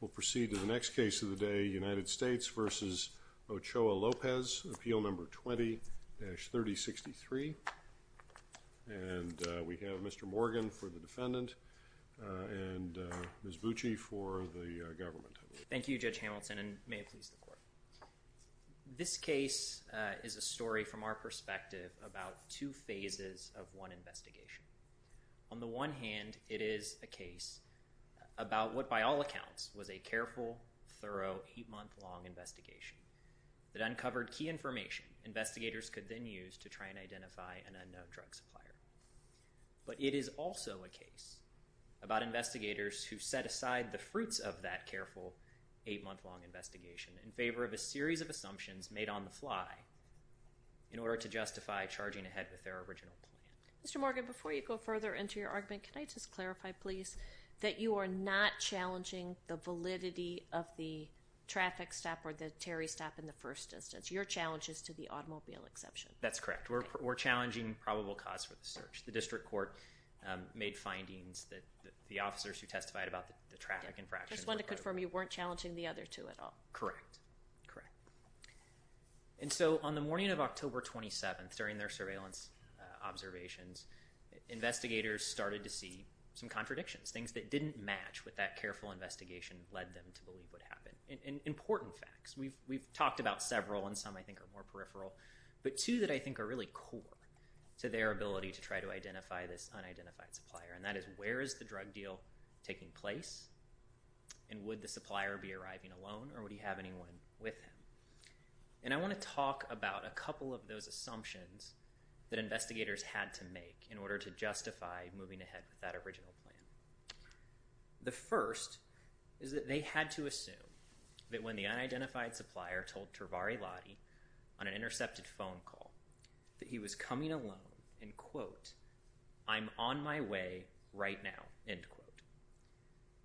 We'll proceed to the next case of the day, United States v. Ochoa-Lopez, Appeal No. 20-3063. And we have Mr. Morgan for the defendant and Ms. Bucci for the government. Thank you Judge Hamilton and may it please the court. This case is a story from our perspective about two phases of one investigation. On the one hand, it is a case about what by all accounts was a careful, thorough, eight-month-long investigation that uncovered key information investigators could then use to try and identify an unknown drug supplier. But it is also a case about investigators who set aside the fruits of that careful, eight-month-long investigation in favor of a series of assumptions made on the fly in order to justify charging ahead with their original plan. Mr. Morgan, before you go further into your argument, can I just clarify please that you are not challenging the validity of the traffic stop or the Terry stop in the first instance. Your challenge is to the automobile exception. That's correct. We're challenging probable cause for the search. The district court made findings that the officers who testified about the traffic infraction Just wanted to confirm you weren't challenging the other two at all. Correct. Correct. And so on the morning of October 27th, during their surveillance observations, investigators started to see some contradictions, things that didn't match with that careful investigation led them to believe would happen. Important facts. We've talked about several, and some I think are more peripheral, but two that I think are really core to their ability to try to identify this unidentified supplier, and that is where is the drug deal taking place, and would the supplier be arriving alone, or would he have anyone with him? And I want to talk about a couple of those assumptions that investigators had to make in order to justify moving ahead with that original plan. The first is that they had to assume that when the unidentified supplier told Trivari Lottie on an intercepted phone call that he was coming alone, and quote, I'm on my way right now, end quote.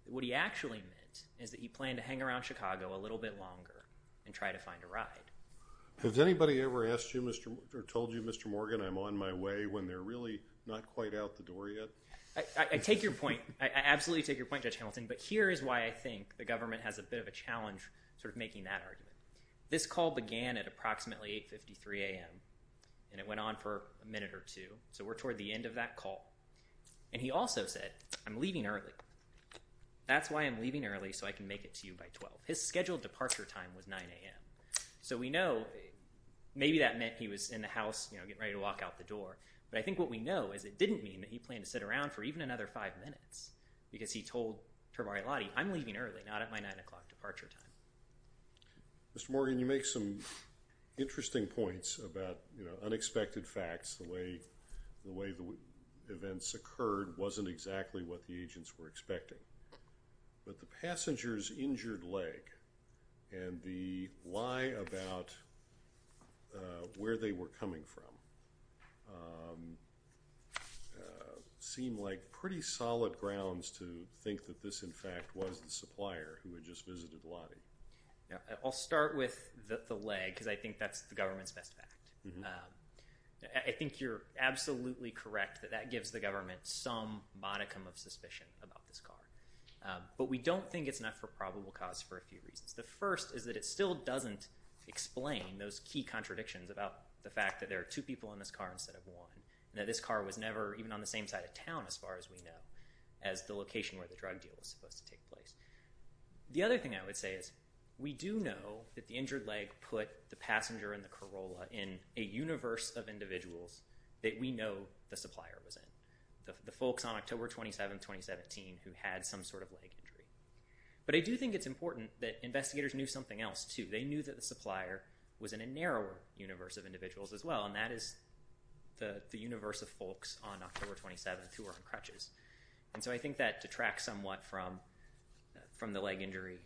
What he actually meant is that he planned to hang around Chicago a little bit longer and try to find a ride. Has anybody ever asked you, or told you, Mr. Morgan, I'm on my way, when they're really not quite out the door yet? I take your point. I absolutely take your point, Judge Hamilton, but here is why I think the government has a bit of a challenge sort of making that argument. This call began at approximately 8.53 a.m., and it went on for a minute or two, so we're Mr. Morgan also said, I'm leaving early. That's why I'm leaving early, so I can make it to you by 12. His scheduled departure time was 9 a.m. So we know maybe that meant he was in the house, you know, getting ready to walk out the door, but I think what we know is it didn't mean that he planned to sit around for even another five minutes, because he told Trivari Lottie, I'm leaving early, not at my 9 o'clock departure time. Mr. Morgan, you make some interesting points about, you know, unexpected facts, the way the events occurred wasn't exactly what the agents were expecting, but the passenger's injured leg and the lie about where they were coming from seem like pretty solid grounds to think that this, in fact, was the supplier who had just visited Lottie. I'll start with the leg, because I think that's the government's best fact. I think you're absolutely correct that that gives the government some modicum of suspicion about this car, but we don't think it's enough for probable cause for a few reasons. The first is that it still doesn't explain those key contradictions about the fact that there are two people in this car instead of one, and that this car was never even on the same side of town, as far as we know, as the location where the drug deal was supposed to take place. The other thing I would say is we do know that the injured leg put the passenger and the Corolla in a universe of individuals that we know the supplier was in, the folks on October 27th, 2017, who had some sort of leg injury. But I do think it's important that investigators knew something else, too. They knew that the supplier was in a narrower universe of individuals as well, and that is the universe of folks on October 27th who are on crutches. And so I think that detracts somewhat from the leg injury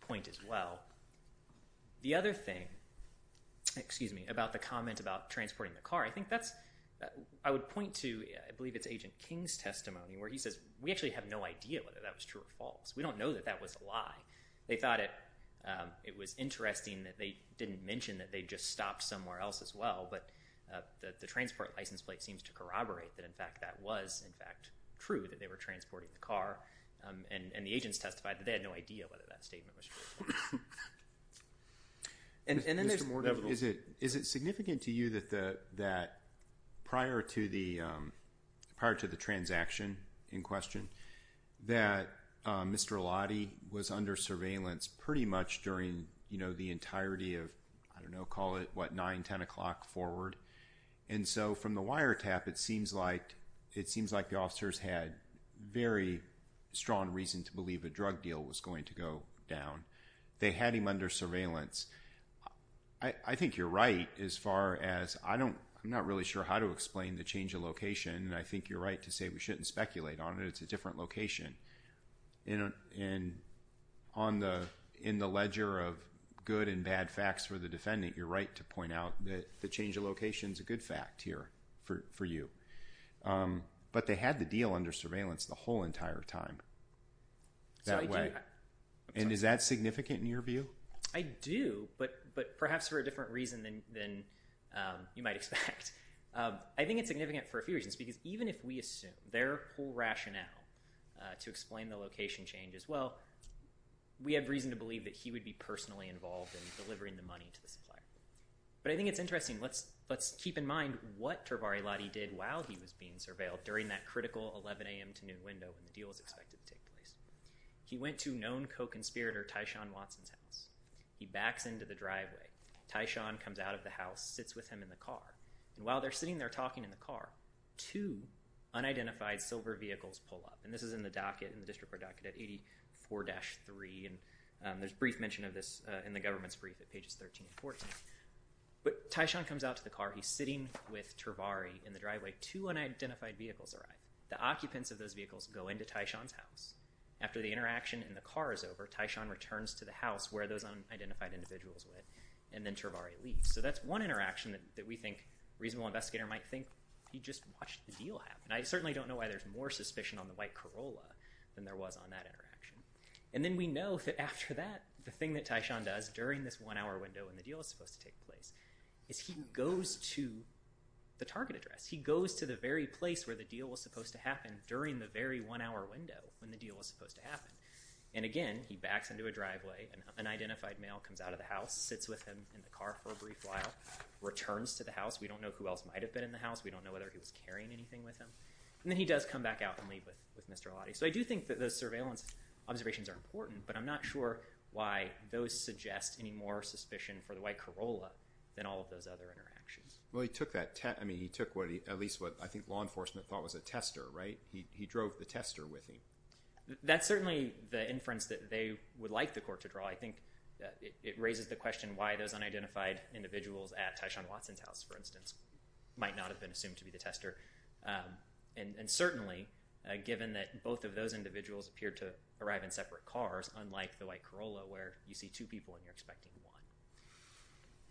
point as well. The other thing, excuse me, about the comment about transporting the car, I think that's I would point to, I believe it's Agent King's testimony, where he says we actually have no idea whether that was true or false. We don't know that that was a lie. They thought it was interesting that they didn't mention that they just stopped somewhere else as well, but the transport license plate seems to corroborate that in fact that was in fact true, that they were transporting the car, and the agents testified that they Mr. Morgan, is it significant to you that prior to the transaction in question, that Mr. Eladi was under surveillance pretty much during the entirety of, I don't know, call it what, 9, 10 o'clock forward? And so from the wiretap, it seems like the officers had very strong reason to believe a drug deal was going to go down. They had him under surveillance. I think you're right as far as I don't, I'm not really sure how to explain the change of location, and I think you're right to say we shouldn't speculate on it. It's a different location, and on the, in the ledger of good and bad facts for the defendant, you're right to point out that the change of location is a good fact here for you. But they had the deal under surveillance the whole entire time. That way. And is that significant in your view? I do, but perhaps for a different reason than you might expect. I think it's significant for a few reasons, because even if we assume their whole rationale to explain the location change as well, we have reason to believe that he would be personally involved in delivering the money to the supplier. But I think it's interesting, let's keep in mind what Tervari-Eladi did while he was being He went to known co-conspirator Tyshawn Watson's house. He backs into the driveway. Tyshawn comes out of the house, sits with him in the car, and while they're sitting there talking in the car, two unidentified silver vehicles pull up. And this is in the docket, in the district court docket at 84-3, and there's brief mention of this in the government's brief at pages 13 and 14. But Tyshawn comes out to the car, he's sitting with Tervari in the driveway, two unidentified vehicles arrive. The occupants of those vehicles go into Tyshawn's house. After the interaction and the car is over, Tyshawn returns to the house where those unidentified individuals went, and then Tervari leaves. So that's one interaction that we think a reasonable investigator might think he just watched the deal happen. I certainly don't know why there's more suspicion on the white Corolla than there was on that interaction. And then we know that after that, the thing that Tyshawn does during this one-hour window when the deal is supposed to take place, is he goes to the target address. He goes to the very place where the deal was supposed to happen during the very one-hour window when the deal was supposed to happen. And again, he backs into a driveway, an unidentified male comes out of the house, sits with him in the car for a brief while, returns to the house. We don't know who else might have been in the house, we don't know whether he was carrying anything with him. And then he does come back out and leave with Mr. Allotte. So I do think that those surveillance observations are important, but I'm not sure why those suggest any more suspicion for the white Corolla than all of those other interactions. Well, he took that test, I mean, he took what he, at least what I think law enforcement thought was a tester, right? He drove the tester with him. That's certainly the inference that they would like the court to draw. I think it raises the question why those unidentified individuals at Tyshawn Watson's house, for instance, might not have been assumed to be the tester. And certainly, given that both of those individuals appeared to arrive in separate cars, unlike the white Corolla, where you see two people and you're expecting one.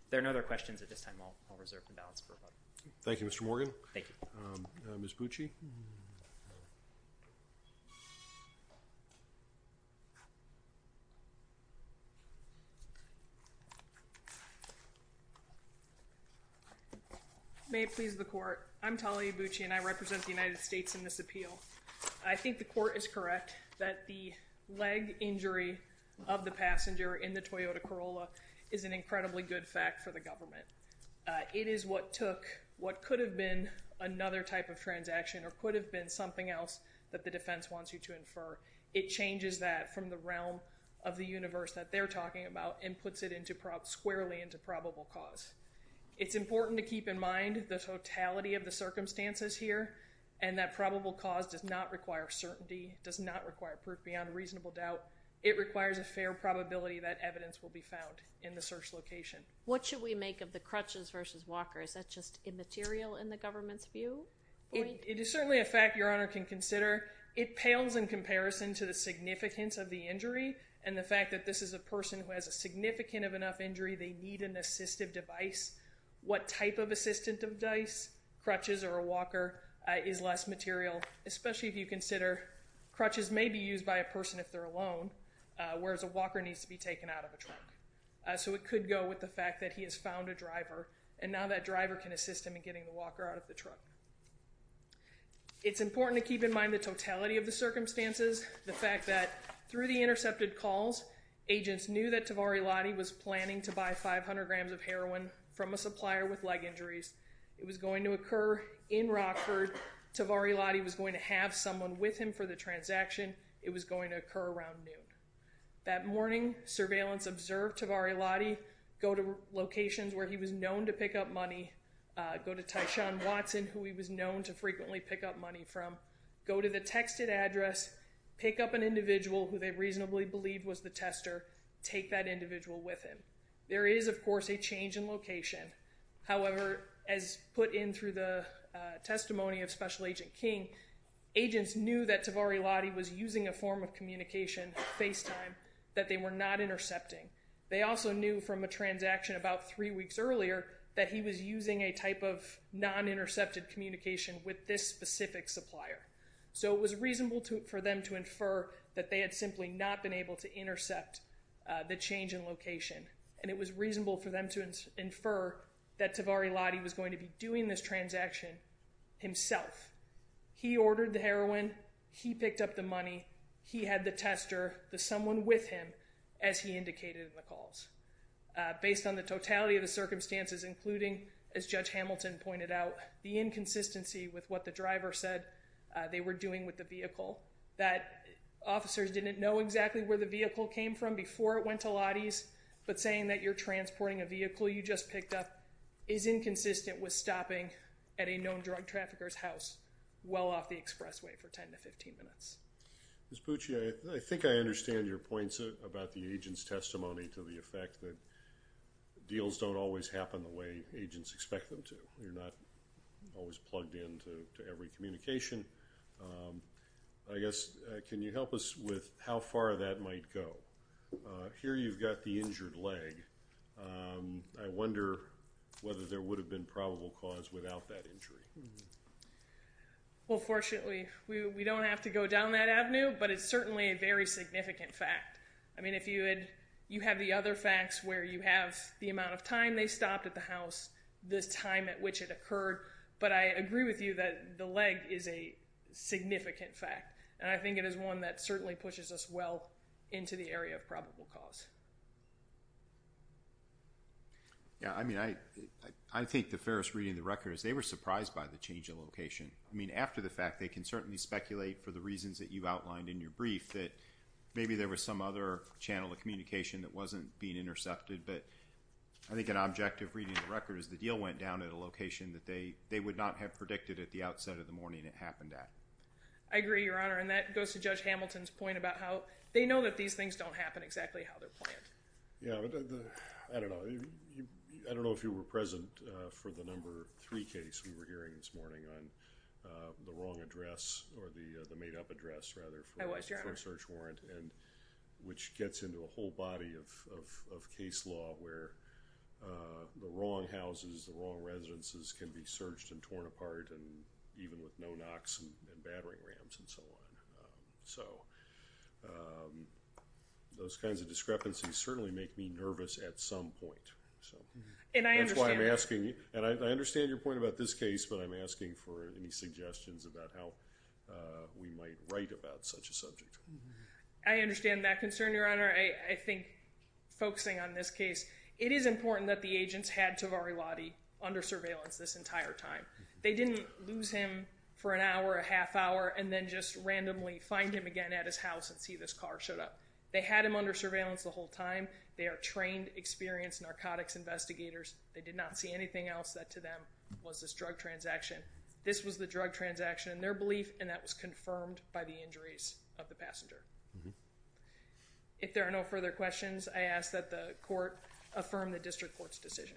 If there are no other questions at this time, I'll reserve the balance for a moment. Thank you, Mr. Morgan. Thank you. Ms. Bucci. May it please the court, I'm Talia Bucci and I represent the United States in this appeal. I think the court is correct that the leg injury of the passenger in the Toyota Corolla is an incredibly good fact for the government. It is what took what could have been another type of transaction or could have been something else that the defense wants you to infer. It changes that from the realm of the universe that they're talking about and puts it squarely into probable cause. It's important to keep in mind the totality of the circumstances here and that probable cause does not require certainty, does not require proof beyond reasonable doubt. It requires a fair probability that evidence will be found in the search location. What should we make of the crutches versus walker? Is that just immaterial in the government's view? It is certainly a fact Your Honor can consider. It pales in comparison to the significance of the injury and the fact that this is a person who has a significant of enough injury, they need an assistive device. What type of assistive device, crutches or a walker, is less material, especially if you consider crutches may be used by a person if they're alone, whereas a walker needs to be taken out of a truck. So it could go with the fact that he has found a driver and now that driver can assist him in getting the walker out of the truck. It's important to keep in mind the totality of the circumstances, the fact that through the intercepted calls, agents knew that Tavari Lotti was planning to buy 500 grams of heroin from a supplier with leg injuries. It was going to occur in Rockford, Tavari Lotti was going to have someone with him for the transaction, it was going to occur around noon. That morning, surveillance observed Tavari Lotti, go to locations where he was known to pick up money, go to Tyshawn Watson who he was known to frequently pick up money from, go to the texted address, pick up an individual who they reasonably believed was the tester, take that individual with him. There is, of course, a change in location, however, as put in through the testimony of Special Agent King, agents knew that Tavari Lotti was using a form of communication, FaceTime, that they were not intercepting. They also knew from a transaction about three weeks earlier that he was using a type of non-intercepted communication with this specific supplier. So it was reasonable for them to infer that they had simply not been able to intercept the change in location. And it was reasonable for them to infer that Tavari Lotti was going to be doing this transaction himself. He ordered the heroin, he picked up the money, he had the tester, the someone with him, as he indicated in the calls. Based on the totality of the circumstances, including, as Judge Hamilton pointed out, the inconsistency with what the driver said they were doing with the vehicle, that officers didn't know exactly where the vehicle came from before it went to Lotti's, but saying that you're transporting a vehicle you just picked up is inconsistent with stopping at a known drug trafficker's house well off the expressway for 10 to 15 minutes. Ms. Pucci, I think I understand your points about the agent's testimony to the effect that deals don't always happen the way agents expect them to. You're not always plugged in to every communication. I guess, can you help us with how far that might go? Here you've got the injured leg. I wonder whether there would have been probable cause without that injury. Well, fortunately, we don't have to go down that avenue, but it's certainly a very significant fact. I mean, if you had, you have the other facts where you have the amount of time they stopped at the house, the time at which it occurred, but I agree with you that the leg is a significant fact. And I think it is one that certainly pushes us well into the area of probable cause. Yeah, I mean, I think the fairest reading of the record is they were surprised by the change of location. I mean, after the fact, they can certainly speculate for the reasons that you outlined in your brief that maybe there was some other channel of communication that wasn't being I agree, Your Honor, and that goes to Judge Hamilton's point about how they know that these things don't happen exactly how they're planned. Yeah, I don't know. I don't know if you were present for the number three case we were hearing this morning on the wrong address, or the made up address, rather, for a search warrant, which gets into a whole body of case law where the wrong houses, the wrong residences can be searched and torn apart, and even with no knocks and battering rams and so on. So those kinds of discrepancies certainly make me nervous at some point, so. And I understand. That's why I'm asking you, and I understand your point about this case, but I'm asking for any suggestions about how we might write about such a subject. I understand that concern, Your Honor. I think focusing on this case, it is important that the agents had Tavari Lotti under surveillance this entire time. They didn't lose him for an hour, a half hour, and then just randomly find him again at his house and see this car showed up. They had him under surveillance the whole time. They are trained, experienced narcotics investigators. They did not see anything else that, to them, was this drug transaction. This was the drug transaction in their belief, and that was confirmed by the injuries of the passenger. If there are no further questions, I ask that the Court affirm the District Court's decision.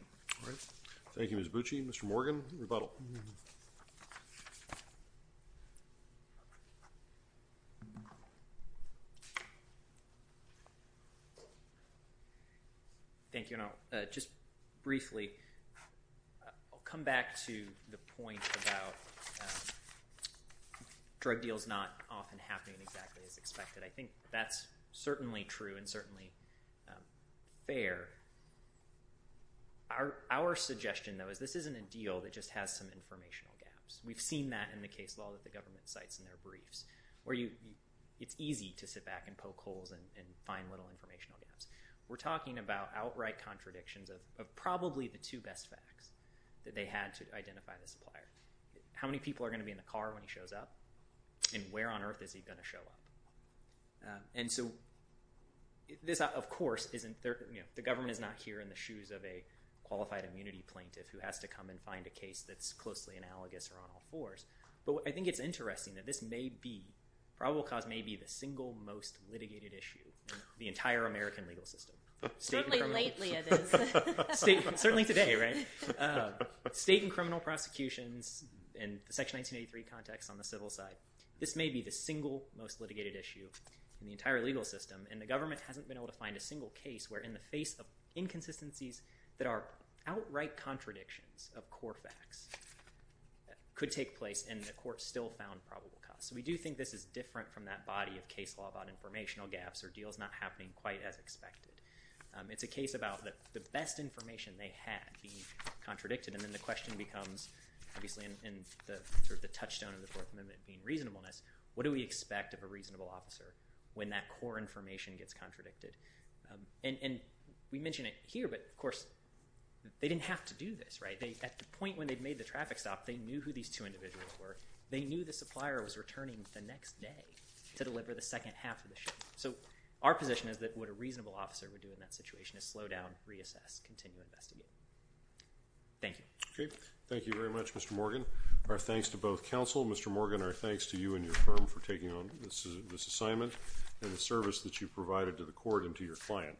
Thank you, Ms. Bucci. Mr. Morgan, rebuttal. Thank you, and I'll, just briefly, I'll come back to the point about drug deals not often happening exactly as expected. I think that's certainly true and certainly fair. Our suggestion, though, is this isn't a deal that just has some informational gaps. We've seen that in the case law that the government cites in their briefs, where it's easy to sit back and poke holes and find little informational gaps. We're talking about outright contradictions of probably the two best facts that they had to identify the supplier. How many people are going to be in the car when he shows up, and where on earth is he going to show up? And so this, of course, isn't, you know, the government is not here in the shoes of a qualified immunity plaintiff who has to come and find a case that's closely analogous or on all fours. But I think it's interesting that this may be, probable cause may be, the single most litigated issue in the entire American legal system. Certainly lately it is. Certainly today, right? State and criminal prosecutions in the Section 1983 context on the civil side, this may be the single most litigated issue in the entire legal system, and the government hasn't been able to find a single case where in the face of inconsistencies that are outright contradictions of core facts could take place, and the court still found probable cause. So we do think this is different from that body of case law about informational gaps or deals not happening quite as expected. It's a case about the best information they had being contradicted, and then the question becomes, obviously in the sort of the touchstone of the Fourth Amendment being reasonableness, what do we expect of a reasonable officer when that core information gets contradicted? And we mention it here, but of course, they didn't have to do this, right? At the point when they made the traffic stop, they knew who these two individuals were. They knew the supplier was returning the next day to deliver the second half of the shipment. So our position is that what a reasonable officer would do in that situation is slow down, reassess, continue investigating. Thank you. Okay. Thank you very much, Mr. Morgan. Our thanks to both counsel. Mr. Morgan, our thanks to you and your firm for taking on this assignment and the service that you provided to the court and to your client.